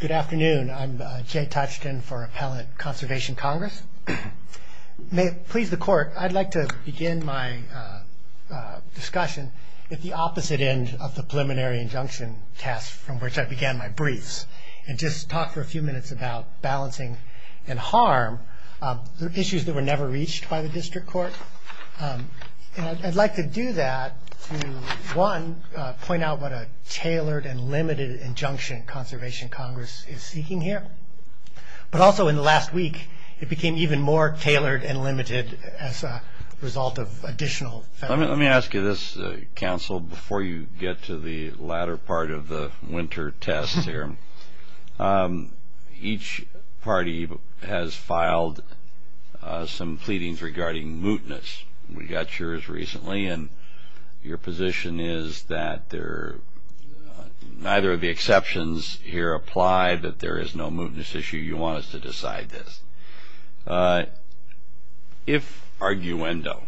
Good afternoon, I'm Jay Tuchton for Appellate Conservation Congress. May it please the Court, I'd like to begin my discussion at the opposite end of the preliminary injunction test from which I began my briefs and just talk for a few minutes about balancing and harm, issues that were never reached by the District Court. I'd like to do that to, one, point out what a tailored and limited injunction Conservation Congress is seeking here. But also in the last week, it became even more tailored and limited as a result of additional federal... Let me ask you this, Counsel, before you get to the latter part of the winter test here. Each party has filed some pleadings regarding mootness. We got yours recently, and your position is that neither of the exceptions here apply, that there is no mootness issue. You want us to decide this. If, arguendo,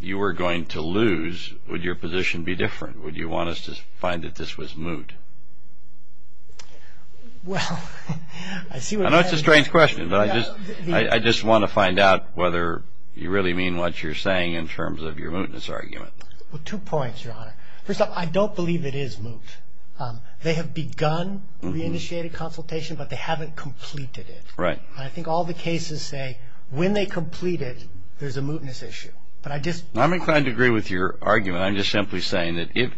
you were going to lose, would your position be different? Would you want us to find that this was moot? Well, I see what you're saying. I know it's a strange question, but I just want to find out whether you really mean what you're saying in terms of your mootness argument. Two points, Your Honor. First off, I don't believe it is moot. They have begun re-initiated consultation, but they haven't completed it. Right. And I think all the cases say when they complete it, there's a mootness issue. But I just... I'm inclined to agree with your argument. I'm just simply saying that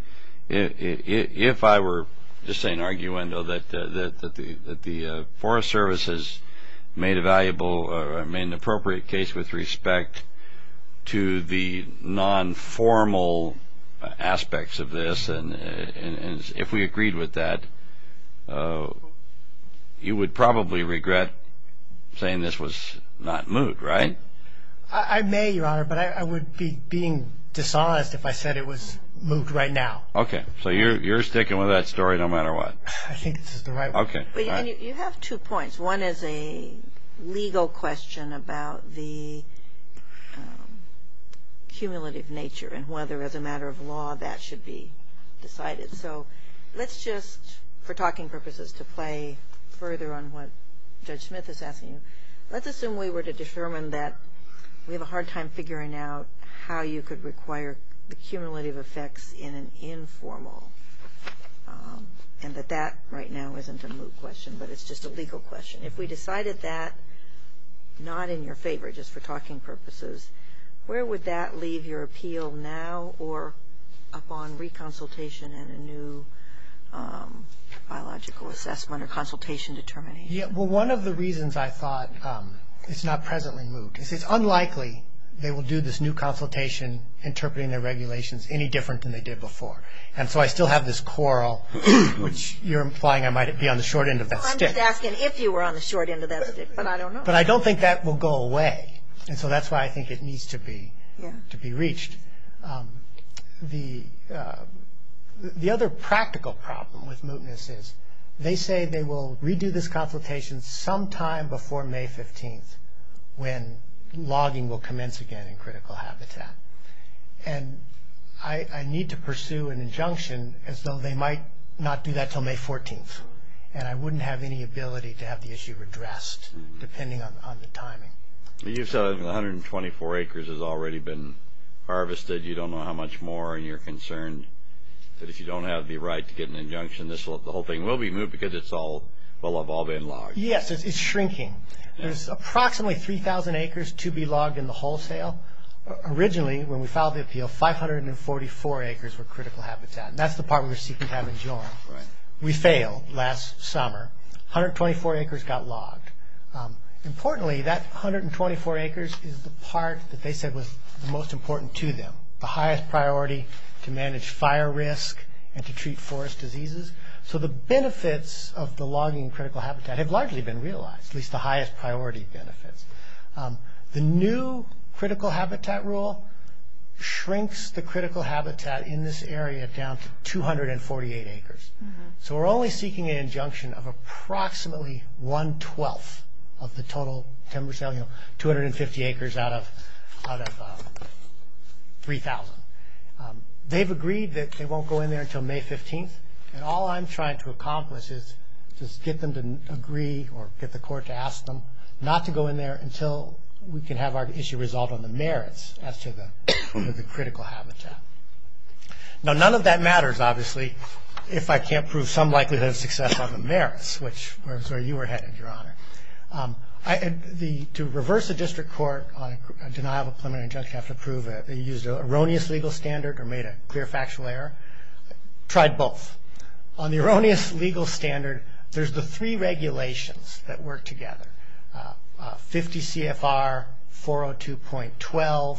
if I were just saying, arguendo, that the Forest Service has made a valuable or made an appropriate case with respect to the non-formal aspects of this, and if we agreed with that, you would probably regret saying this was not moot, right? I may, Your Honor, but I would be being dishonest if I said it was moot right now. Okay. So you're sticking with that story no matter what? I think this is the right one. You have two points. One is a legal question about the cumulative nature and whether as a matter of law that should be decided. So let's just, for talking purposes, to play further on what Judge Smith is asking. Let's assume we were to determine that we have a hard time figuring out how you could require the cumulative effects in an informal, and that that right now isn't a moot question, but it's just a legal question. If we decided that not in your favor, just for talking purposes, where would that leave your appeal now or upon re-consultation and a new biological assessment or consultation determination? Well, one of the reasons I thought it's not presently moot is it's unlikely they will do this new consultation interpreting their regulations any different than they did before. So I still have this quarrel, which you're implying I might be on the short end of that stick. I'm just asking if you were on the short end of that stick, but I don't know. But I don't think that will go away. So that's why I think it needs to be reached. The other practical problem with mootness is they say they will redo this consultation sometime before May 15th when logging will commence again in critical habitat. I need to pursue an injunction as though they might not do that until May 14th, and I wouldn't have any ability to have the issue redressed depending on the timing. You said 124 acres has already been harvested. You don't know how much more, and you're concerned that if you don't have the right to get an injunction, the whole thing will be moot because it's all been logged. Yes, it's shrinking. There's approximately 3,000 acres to be logged in the wholesale. Originally, when we filed the appeal, 544 acres were critical habitat, and that's the part we were seeking to have in June. We failed last summer. 124 acres got logged. Importantly, that 124 acres is the part that they said was most important to them, the highest priority to manage fire risk and to treat forest diseases. So the benefits of the logging in critical habitat have largely been realized, at least the highest priority benefits. The new critical habitat rule shrinks the critical habitat in this area down to 248 acres. So we're only seeking an injunction of approximately one-twelfth of the total timber sale, 250 acres out of 3,000. They've agreed that they won't go in there until May 15th, and all I'm trying to accomplish is just get them to agree or get the court to confirm not to go in there until we can have our issue resolved on the merits as to the critical habitat. Now, none of that matters, obviously, if I can't prove some likelihood of success on the merits, which is where you were headed, Your Honor. To reverse a district court on a denial of a preliminary injunction, you have to prove that you used an erroneous legal standard or made a clear factual error. I tried both. On the erroneous legal standard, there's the three regulations that work together, 50 CFR, 402.12,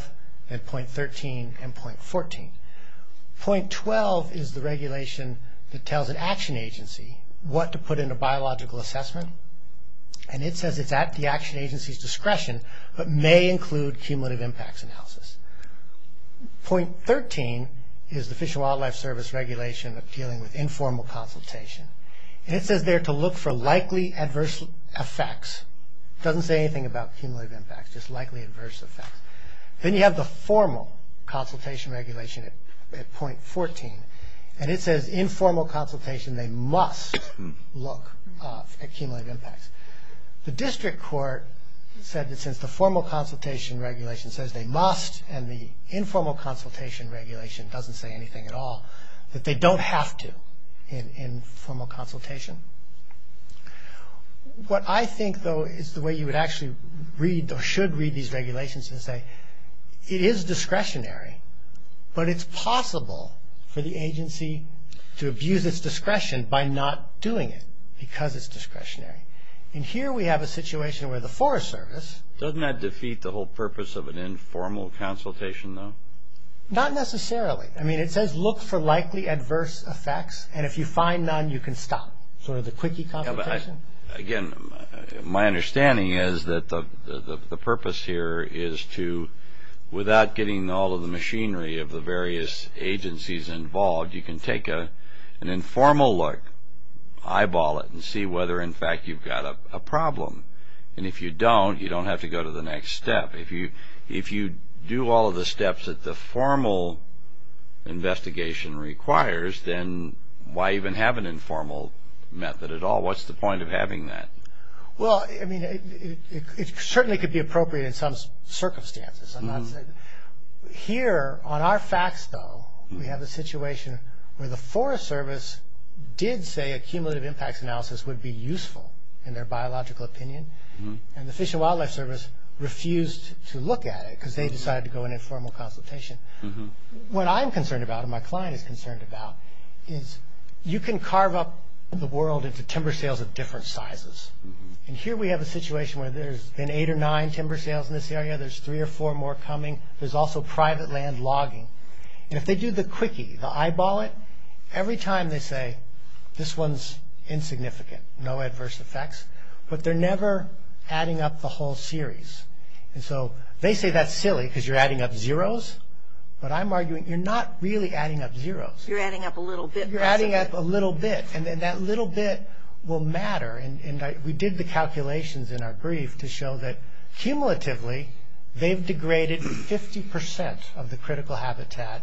and .13 and .14. .12 is the regulation that tells an action agency what to put in a biological assessment, and it says it's at the action agency's discretion, but may include cumulative impacts analysis. .13 is the Fish and Wildlife Service regulation of dealing with informal consultation, and it says there to look for likely adverse effects. It doesn't say anything about cumulative impacts, just likely adverse effects. Then you have the formal consultation regulation at .14, and it says informal consultation, they must look at cumulative impacts. The informal consultation regulation doesn't say anything at all, that they don't have to in formal consultation. What I think, though, is the way you would actually read or should read these regulations is to say it is discretionary, but it's possible for the agency to abuse its discretion by not doing it because it's discretionary. Here we have a situation where the Forest Service. Doesn't that defeat the whole purpose of an informal consultation, though? Not necessarily. It says look for likely adverse effects, and if you find none, you can stop, sort of the quickie consultation. Again, my understanding is that the purpose here is to, without getting all of the machinery of the various agencies involved, you can take an informal look, eyeball it, and see whether in fact you've got a problem. If you don't, you don't have to go to the next step. If you do all of the steps that the formal investigation requires, then why even have an informal method at all? What's the point of having that? Well, I mean, it certainly could be appropriate in some circumstances. Here on our facts, though, we have a situation where the Forest Service did say a cumulative impacts analysis would be useful in their biological opinion, and the Fish and Wildlife Service refused to look at it because they decided to go in a formal consultation. What I'm concerned about, and my client is concerned about, is you can carve up the world into timber sales of different sizes, and here we have a situation where there's been eight or nine timber sales in this area. There's three or four more coming. There's also private land logging, and if they do the quickie, the eyeball it, every time they say, this one's insignificant, no adverse effects, but they're never adding up the whole series. They say that's silly because you're adding up zeroes, but I'm arguing you're not really adding up zeroes. You're adding up a little bit. You're adding up a little bit, and that little bit will matter. We did the calculations in our brief to show that cumulatively, they've added the critical habitat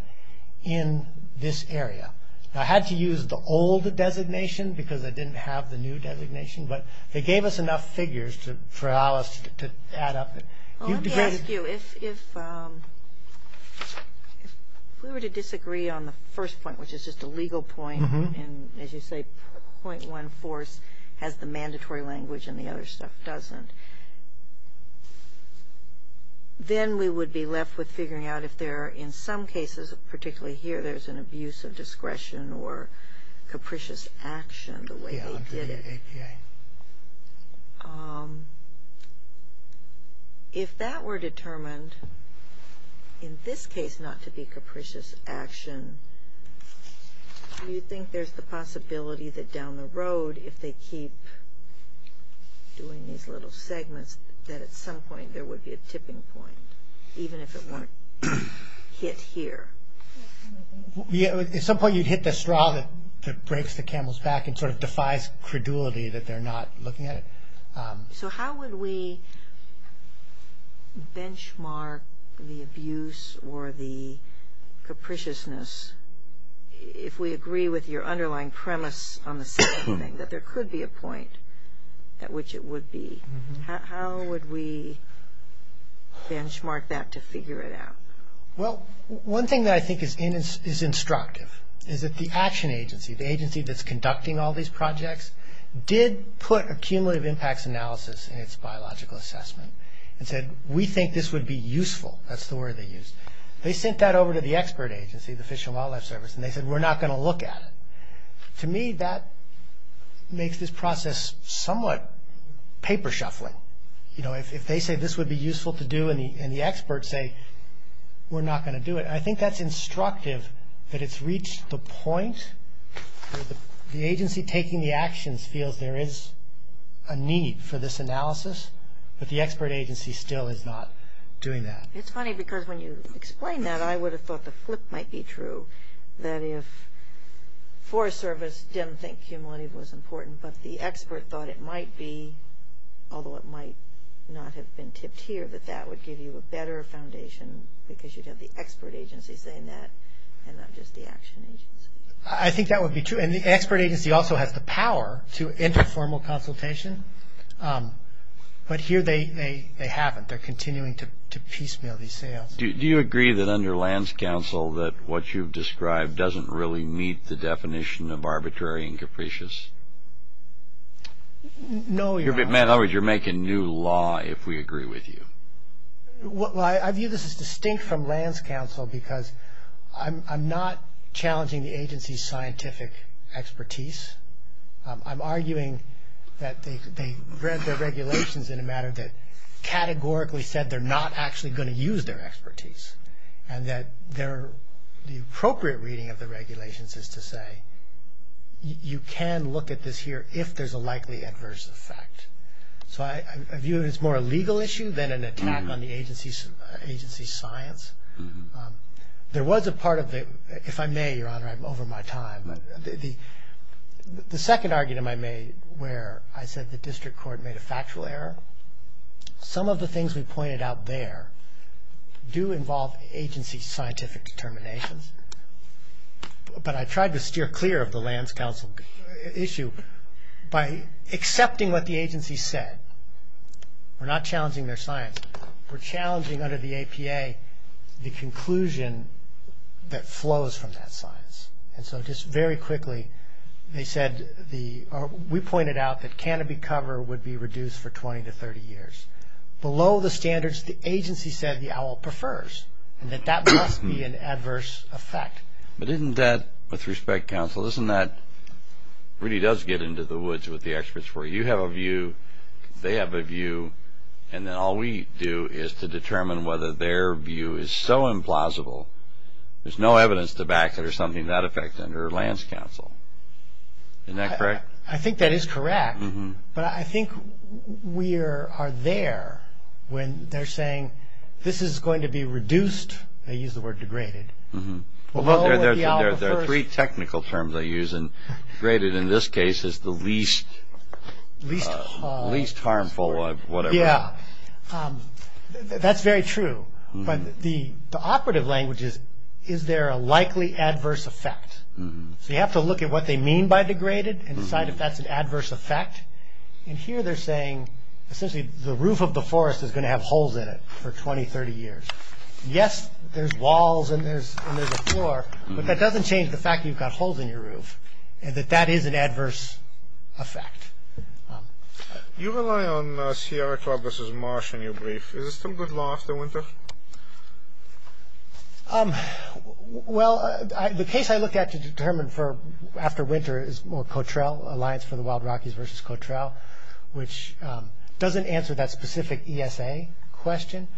in this area. I had to use the old designation because I didn't have the new designation, but they gave us enough figures to allow us to add up. Well, let me ask you, if we were to disagree on the first point, which is just a legal point, and as you say, .1 force has the mandatory language and the other stuff doesn't, then we would be left with figuring out if there are, in some cases, particularly here, there's an abuse of discretion or capricious action the way they did it. If that were determined, in this case not to be capricious action, do you think there's the possibility that down the road, if they keep doing these little segments, that at some point there would be a tipping point, even if it weren't hit here? At some point you'd hit the straw that breaks the camel's back and sort of defies credulity that they're not looking at it. So how would we benchmark the abuse or the capriciousness if we agree with your underlying premise on the second thing, that there could be a point at which it would be? How would we benchmark that to figure it out? Well, one thing that I think is instructive is that the action agency, the agency that's conducting all these projects, did put a cumulative impacts analysis in its biological assessment and said, we think this would be useful, that's the word they used. They sent that over to the expert agency, the Fish and Wildlife Service, and they said we're not going to look at it. To me, that makes this process somewhat paper shuffling. If they say this would be useful to do and the experts say we're not going to do it, I think that's instructive that it's reached the point where the agency taking the actions feels there is a need for this analysis, but the expert agency still is not doing that. It's funny because when you explain that, I would have thought the flip might be true, that if Forest Service didn't think cumulative was important, but the expert thought it might be, although it might not have been tipped here, that that would give you a better foundation because you'd have the expert agency saying that and not just the action agency. I think that would be true, and the expert agency also has the power to enter formal consultation, but here they haven't. They're continuing to piecemeal these sales. Do you agree that under Lands Council that what you've described doesn't really meet the definition of arbitrary and capricious? No. In other words, you're making new law if we agree with you. Well, I view this as distinct from Lands Council because I'm not challenging the agency's scientific expertise. I'm arguing that they read their regulations in a manner that categorically said they're not actually going to use their expertise and that the appropriate reading of the regulations is to say you can look at this here if there's a likely adverse effect. So I view it as more a legal issue than an attack on the agency's science. There was a part of it, if I may, Your Honor, I'm over my time, but the second argument I made where I said the district court made a factual error, some of the things we pointed out there do involve agency's scientific determinations, but I tried to steer clear of the Lands Council issue by accepting what the agency said. We're not challenging their science. We're challenging under the APA the conclusion that flows from that science, and so just very quickly they said, we pointed out that canopy cover would be reduced for 20 to 30 years. Below the standards the agency said the OWL prefers, and that that must be an adverse effect. But isn't that, with respect, counsel, isn't that really does get into the woods with the experts where you have a view, they have a view, and then all we do is to determine whether their view is so implausible there's no evidence to back that there's something to that effect under Lands Council. Isn't that correct? I think that is correct, but I think we are there when they're saying this is going to be reduced, they use the word degraded, below the OWL prefers. There are three technical terms I use, and degraded in this case is the least harmful of whatever. Yeah, that's very true, but the operative language is, is there a likely adverse effect? So you have to look at what they mean by degraded and decide if that's an adverse effect, and here they're saying essentially the roof of the forest is going to have holes in it for 20, 30 years. Yes there's walls and there's a floor, but that doesn't change the fact that you've got holes in your roof, and that that is an adverse effect. You rely on Sierra Club versus Marsh in your brief, is it still good law after winter? Well, the case I look at to determine for after winter is more Cotrell, Alliance for the Wild Rockies versus Cotrell, which doesn't answer that specific ESA question.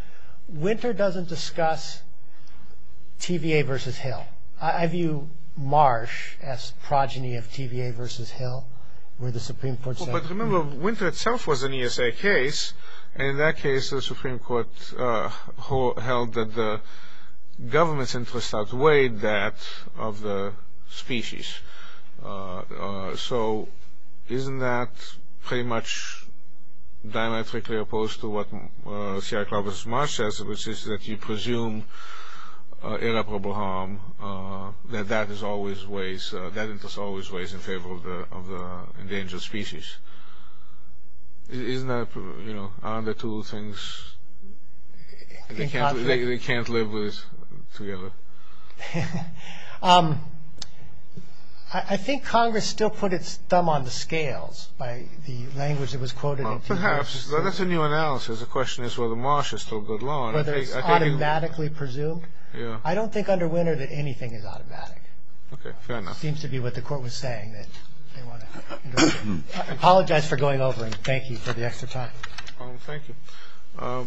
Winter doesn't discuss TVA versus Hill. I view Marsh as progeny of TVA versus Hill, where the Supreme Court said... But remember, winter itself was an ESA case, and in that case the Supreme Court held that the government's interests outweighed that of the species. So isn't that pretty much diametrically opposed to what Sierra Club versus Marsh says, which is that you presume irreparable harm, that that is always ways, that interest is always ways in favor of the endangered species. Isn't that, aren't the two things, they can't live together? I think Congress still put its thumb on the scales by the language that was quoted in TVA. Perhaps, that's a new analysis, the question is whether Marsh is still good law. Whether it's automatically presumed? I don't think under winter that anything is automatic. Okay, fair enough. That seems to be what the court was saying, that they want to, I apologize for going over and thank you for the extra time. Thank you. Are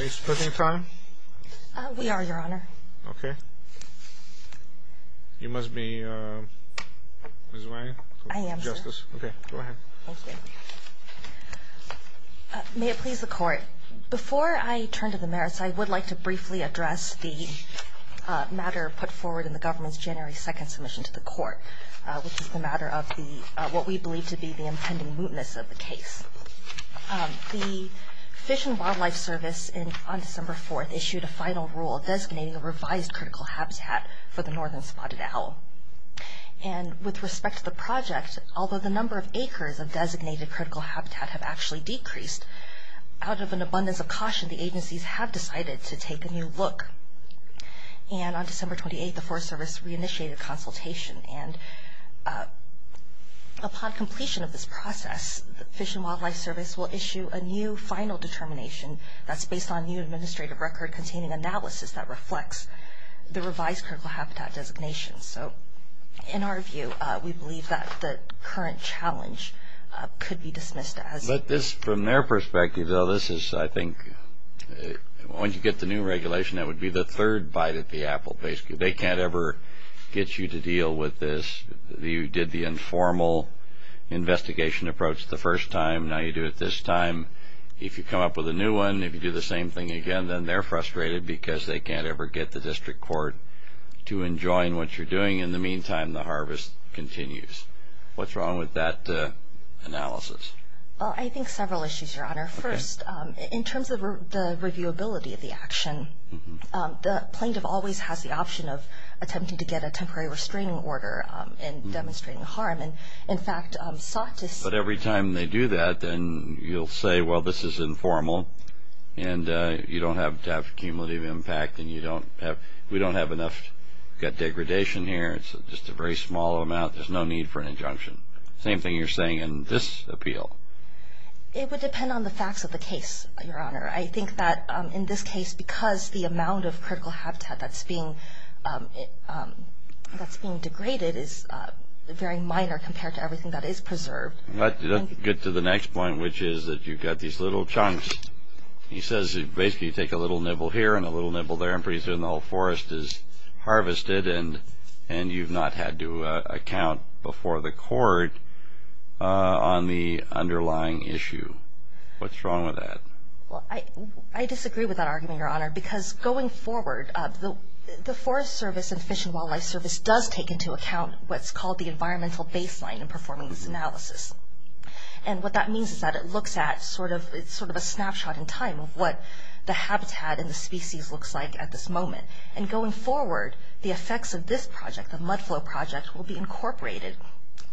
you splitting time? We are, Your Honor. Okay. You must be Ms. Wang? I am, sir. Okay, go ahead. May it please the court, before I turn to the merits, I would like to briefly address the matter put forward in the government's January 2nd submission to the court, which is the matter of the, what we believe to be the impending mootness of the case. The Fish and Wildlife Service on December 4th issued a final rule designating a revised critical habitat for the northern spotted owl. And, with respect to the project, although the number of acres of designated critical habitat have actually decreased, out of an abundance of caution, the agencies have decided to take a new look. And, on December 28th, the Forest Service re-initiated a consultation, and upon completion of this process, the Fish and Wildlife Service will issue a new final determination that's based on new administrative record containing analysis that reflects the revised critical habitat designation. So, in our view, we believe that the current challenge could be dismissed as... But, this, from their perspective, though, this is, I think, when you get the new regulation, that would be the third bite at the apple, basically. They can't ever get you to deal with this. You did the informal investigation approach the first time, now you do it this time. If you come up with a new one, if you do the same thing again, then they're frustrated because they can't ever get the district court to enjoin what you're doing. In the meantime, the harvest continues. What's wrong with that analysis? Well, I think several issues, Your Honor. First, in terms of the reviewability of the action, the plaintiff always has the option of attempting to get a temporary restraining order in demonstrating harm, and, in fact, sought to... But, every time they do that, then you'll say, well, this is informal, and you don't have to have cumulative impact, and you don't have... We don't have enough... We've got degradation here. It's just a very small amount. There's no need for an injunction. Same thing you're saying in this appeal. It would depend on the facts of the case, Your Honor. I think that, in this case, because the amount of critical habitat that's being degraded is very minor compared to everything that is preserved. Let's get to the next point, which is that you've got these little chunks. He says, basically, you take a little nibble here and a little nibble there, and pretty not had to account before the court on the underlying issue. What's wrong with that? Well, I disagree with that argument, Your Honor, because, going forward, the Forest Service and Fish and Wildlife Service does take into account what's called the environmental baseline in performing this analysis. What that means is that it looks at sort of a snapshot in time of what the habitat and the species looks like at this moment. Going forward, the effects of this project, the Mudflow project, will be incorporated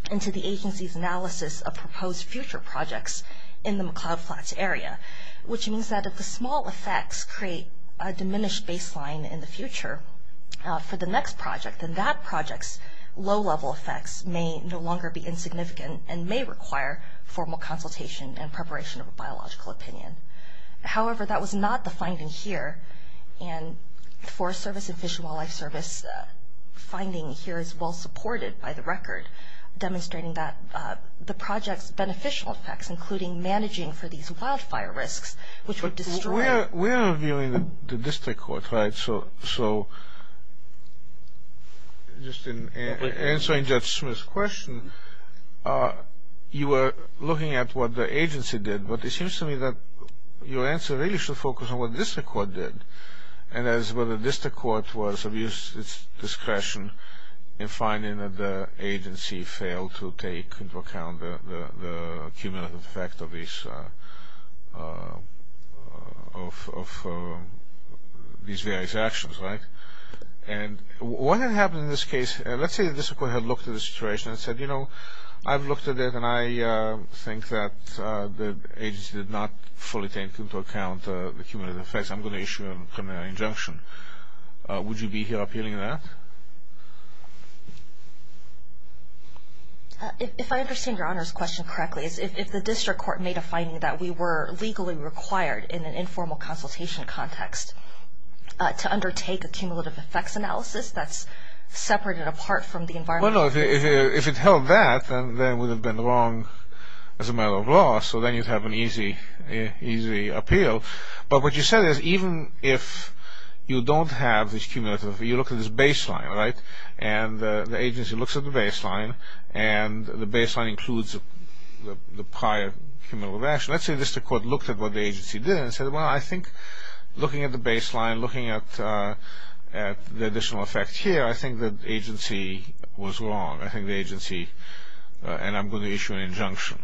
into the agency's analysis of proposed future projects in the McLeod Flats area, which means that if the small effects create a diminished baseline in the future for the next project, then that project's low-level effects may no longer be insignificant and may require formal consultation and preparation of a biological opinion. However, that was not the finding here, and the Forest Service and Fish and Wildlife Service finding here is well-supported by the record, demonstrating that the project's beneficial effects, including managing for these wildfire risks, which would destroy... But we're reviewing the district court, right? So, just in answering Judge Smith's question, you were looking at what the agency did, but it seems to me that your answer really should focus on what the district court did, and that is whether the district court was of use to its discretion in finding that the agency failed to take into account the cumulative effect of these various actions, right? And what had happened in this case, let's say the district court had looked at the situation and said, you know, I've looked at it, and I think that the agency did not fully take into account the cumulative effects. I'm going to issue a criminal injunction. Would you be here appealing that? If I understand Your Honor's question correctly, if the district court made a finding that we were legally required in an informal consultation context to undertake a cumulative effects analysis that's separate and apart from the environmental... Well, no. If it held that, then it would have been wrong as a matter of law, so then you'd have an easy appeal. But what you said is even if you don't have this cumulative effect, you look at this baseline, right? And the agency looks at the baseline, and the baseline includes the prior cumulative action. Let's say the district court looked at what the agency did and said, well, I think looking at the baseline, looking at the additional effects here, I think the agency was wrong. I think the agency... And I'm going to issue an injunction.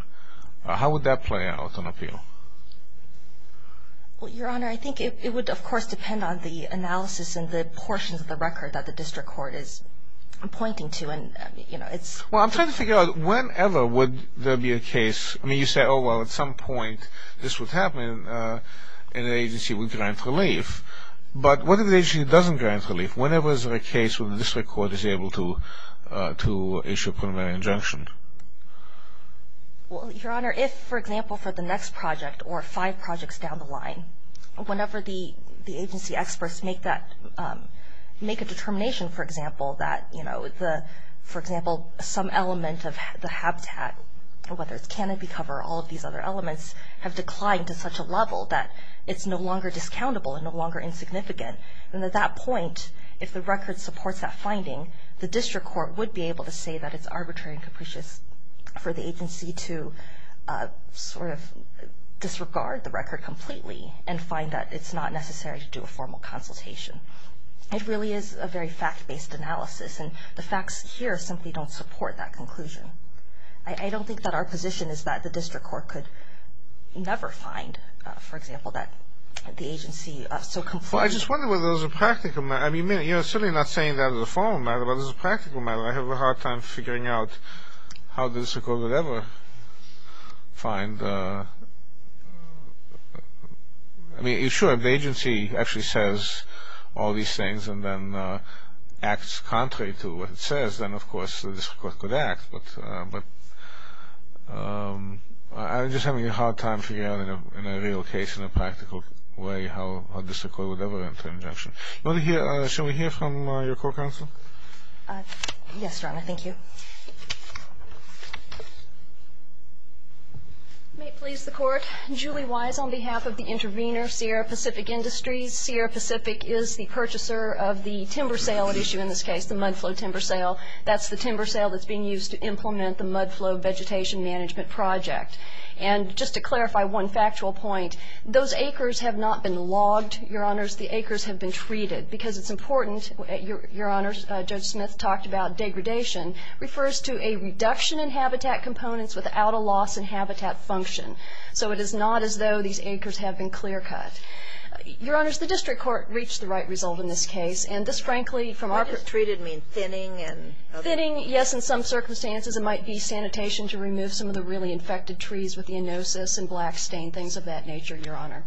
How would that play out on appeal? Well, Your Honor, I think it would, of course, depend on the analysis and the portions of the record that the district court is pointing to, and, you know, it's... Well, I'm trying to figure out whenever would there be a case... I mean, you say, oh, well, at some point this would happen, and the agency would grant relief. But what if the agency doesn't grant relief? Whenever is there a case where the district court is able to issue a preliminary injunction? Well, Your Honor, if, for example, for the next project or five projects down the line, whenever the agency experts make that... Make a determination, for example, that, you know, the... Whether it's canopy cover or all of these other elements have declined to such a level that it's no longer discountable and no longer insignificant, and at that point, if the record supports that finding, the district court would be able to say that it's arbitrary and capricious for the agency to sort of disregard the record completely and find that it's not necessary to do a formal consultation. It really is a very fact-based analysis, and the facts here simply don't support that conclusion. I don't think that our position is that the district court could never find, for example, that the agency so completely... Well, I just wonder whether there's a practical matter. I mean, you're certainly not saying that as a formal matter, but as a practical matter. I have a hard time figuring out how the district court would ever find... I mean, sure, if the agency actually says all these things and then acts contrary to what it says, then, of course, the district court could act, but I'm just having a hard time figuring out in a real case, in a practical way, how the district court would ever enter an injunction. Should we hear from your court counsel? Yes, Your Honor. Thank you. May it please the Court. Julie Wise on behalf of the intervener, Sierra Pacific Industries. Sierra Pacific is the purchaser of the timber sale at issue in this case, the Mudflow timber sale. That's the timber sale that's being used to implement the Mudflow vegetation management project. And just to clarify one factual point, those acres have not been logged, Your Honors. The acres have been treated. Because it's important, Your Honors, Judge Smith talked about degradation, refers to a reduction in habitat components without a loss in habitat function. So it is not as though these acres have been clear-cut. Your Honors, the district court reached the right result in this case, and this, frankly, from our- By just treated, you mean thinning and other- Thinning, yes, in some circumstances. It might be sanitation to remove some of the really infected trees with the anosis and black stain, things of that nature, Your Honor.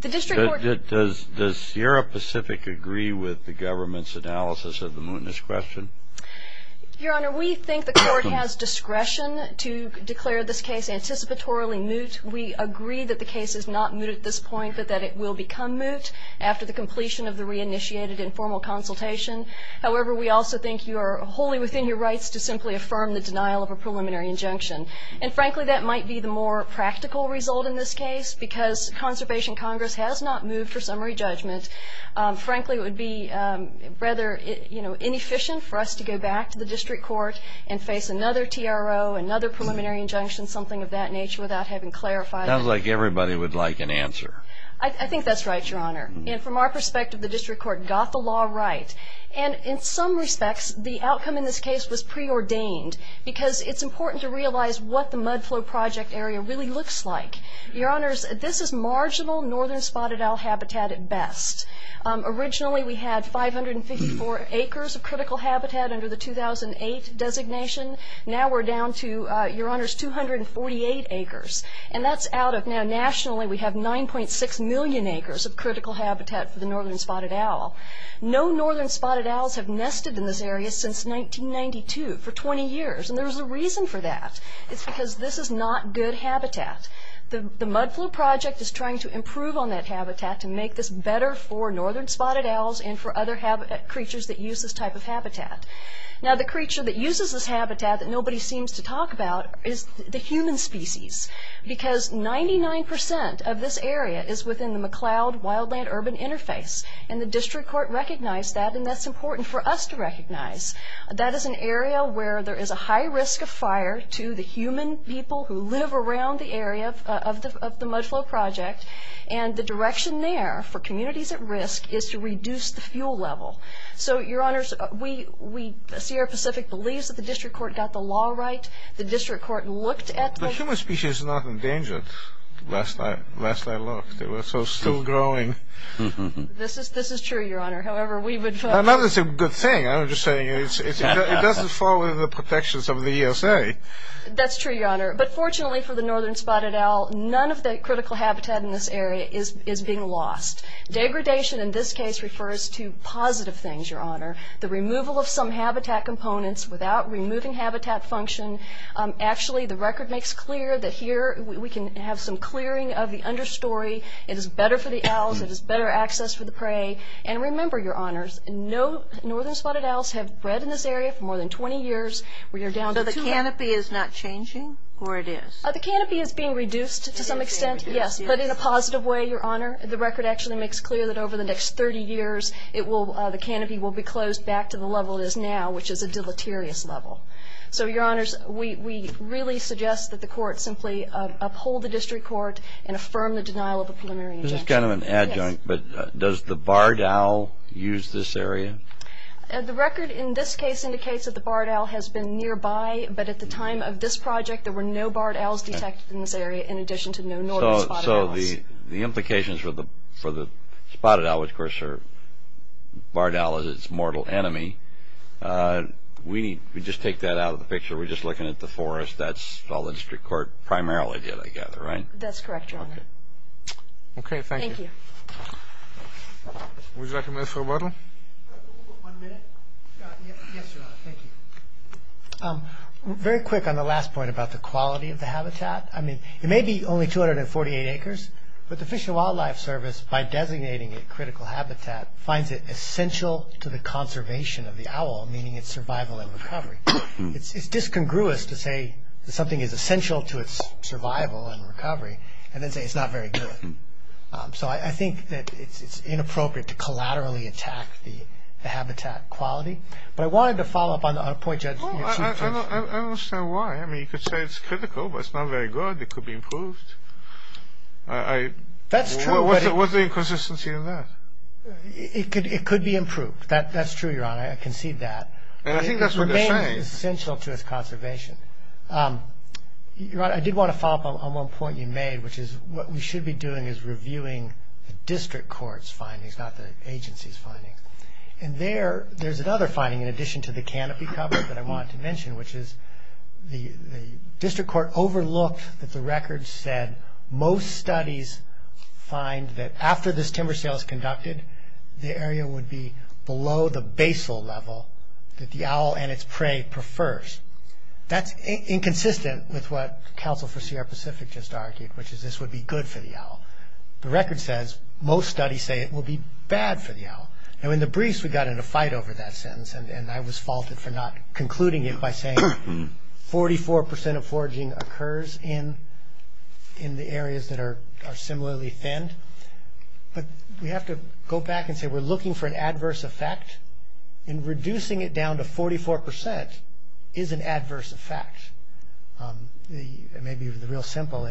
The district court- Does Sierra Pacific agree with the government's analysis of the mootness question? Your Honor, we think the court has discretion to declare this case anticipatorily moot. We agree that the case is not moot at this point, but that it will become moot after the completion of the reinitiated informal consultation. However, we also think you are wholly within your rights to simply affirm the denial of a preliminary injunction. And, frankly, that might be the more practical result in this case because Conservation Congress has not moved for summary judgment. Frankly, it would be rather inefficient for us to go back to the district court and face another TRO, another preliminary injunction, something of that nature, without having clarified- Sounds like everybody would like an answer. I think that's right, Your Honor. And from our perspective, the district court got the law right. And in some respects, the outcome in this case was preordained because it's important to realize what the Mudflow Project area really looks like. Your Honors, this is marginal northern spotted owl habitat at best. Originally, we had 554 acres of critical habitat under the 2008 designation. Now we're down to, Your Honors, 248 acres. And that's out of, now nationally, we have 9.6 million acres of critical habitat for the northern spotted owl. No northern spotted owls have nested in this area since 1992, for 20 years. And there's a reason for that. It's because this is not good habitat. The Mudflow Project is trying to improve on that habitat to make this better for northern spotted owls and for other creatures that use this type of habitat. Now the creature that uses this habitat that nobody seems to talk about is the human species. Because 99% of this area is within the McLeod-Wildland Urban Interface. And the district court recognized that, and that's important for us to recognize. That is an area where there is a high risk of fire to the human people who live around the area of the Mudflow Project. And the direction there for communities at risk is to reduce the fuel level. So, Your Honors, Sierra Pacific believes that the district court got the law right. The district court looked at the... The human species is not endangered. Last I looked, they were still growing. This is true, Your Honor. However, we would vote... Not that it's a good thing. I'm just saying it doesn't fall under the protections of the ESA. That's true, Your Honor. But fortunately for the northern spotted owl, none of the critical habitat in this area is being lost. Degradation in this case refers to positive things, Your Honor. The removal of some habitat components without removing habitat function. Actually, the record makes clear that here we can have some clearing of the understory. It is better for the owls. It is better access for the prey. And remember, Your Honors, no northern spotted owls have bred in this area for more than 20 years. So the canopy is not changing, or it is? The canopy is being reduced to some extent, yes. But in a positive way, Your Honor. The record actually makes clear that over the next 30 years the canopy will be closed back to the level it is now, which is a deleterious level. So, Your Honors, we really suggest that the court simply uphold the district court and affirm the denial of the preliminary injunction. This is kind of an adjunct, but does the barred owl use this area? The record in this case indicates that the barred owl has been nearby, but at the time of this project there were no barred owls detected in this area in addition to no northern spotted owls. So the implications for the spotted owl, which of course the barred owl is its mortal enemy, we just take that out of the picture. We're just looking at the forest. That's all the district court primarily did, I gather, right? That's correct, Your Honor. Okay, thank you. Thank you. Would you like a minute for rebuttal? One minute? Yes, Your Honor. Thank you. Very quick on the last point about the quality of the habitat. I mean, it may be only 248 acres, but the Fish and Wildlife Service, by designating it critical habitat, finds it essential to the conservation of the owl, meaning its survival and recovery. It's discongruous to say that something is essential to its survival and recovery and then say it's not very good. So I think that it's inappropriate to collaterally attack the habitat quality. But I wanted to follow up on a point you had made. I don't understand why. I mean, you could say it's critical, but it's not very good. It could be improved. That's true. What's the inconsistency in that? It could be improved. That's true, Your Honor. I concede that. And I think that's what they're saying. It remains essential to its conservation. Your Honor, I did want to follow up on one point you made, which is what we should be doing is reviewing the district court's findings, not the agency's findings. And there, there's another finding, in addition to the canopy cover that I wanted to mention, which is the district court overlooked that the record said most studies find that after this timber sale is conducted, the area would be below the basal level that the owl and its prey prefers. That's inconsistent with what counsel for Sierra Pacific just argued, which is this would be good for the owl. The record says most studies say it will be bad for the owl. Now, in the briefs, we got in a fight over that sentence, and I was faulted for not concluding it by saying 44% of foraging occurs in the areas that are similarly thinned. But we have to go back and say we're looking for an adverse effect, and reducing it down to 44% is an adverse effect. It may be real simple.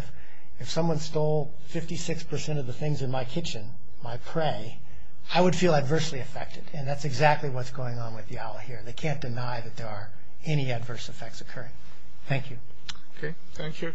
If someone stole 56% of the things in my kitchen, my prey, I would feel adversely affected. And that's exactly what's going on with the owl here. They can't deny that there are any adverse effects occurring. Thank you. Okay, thank you.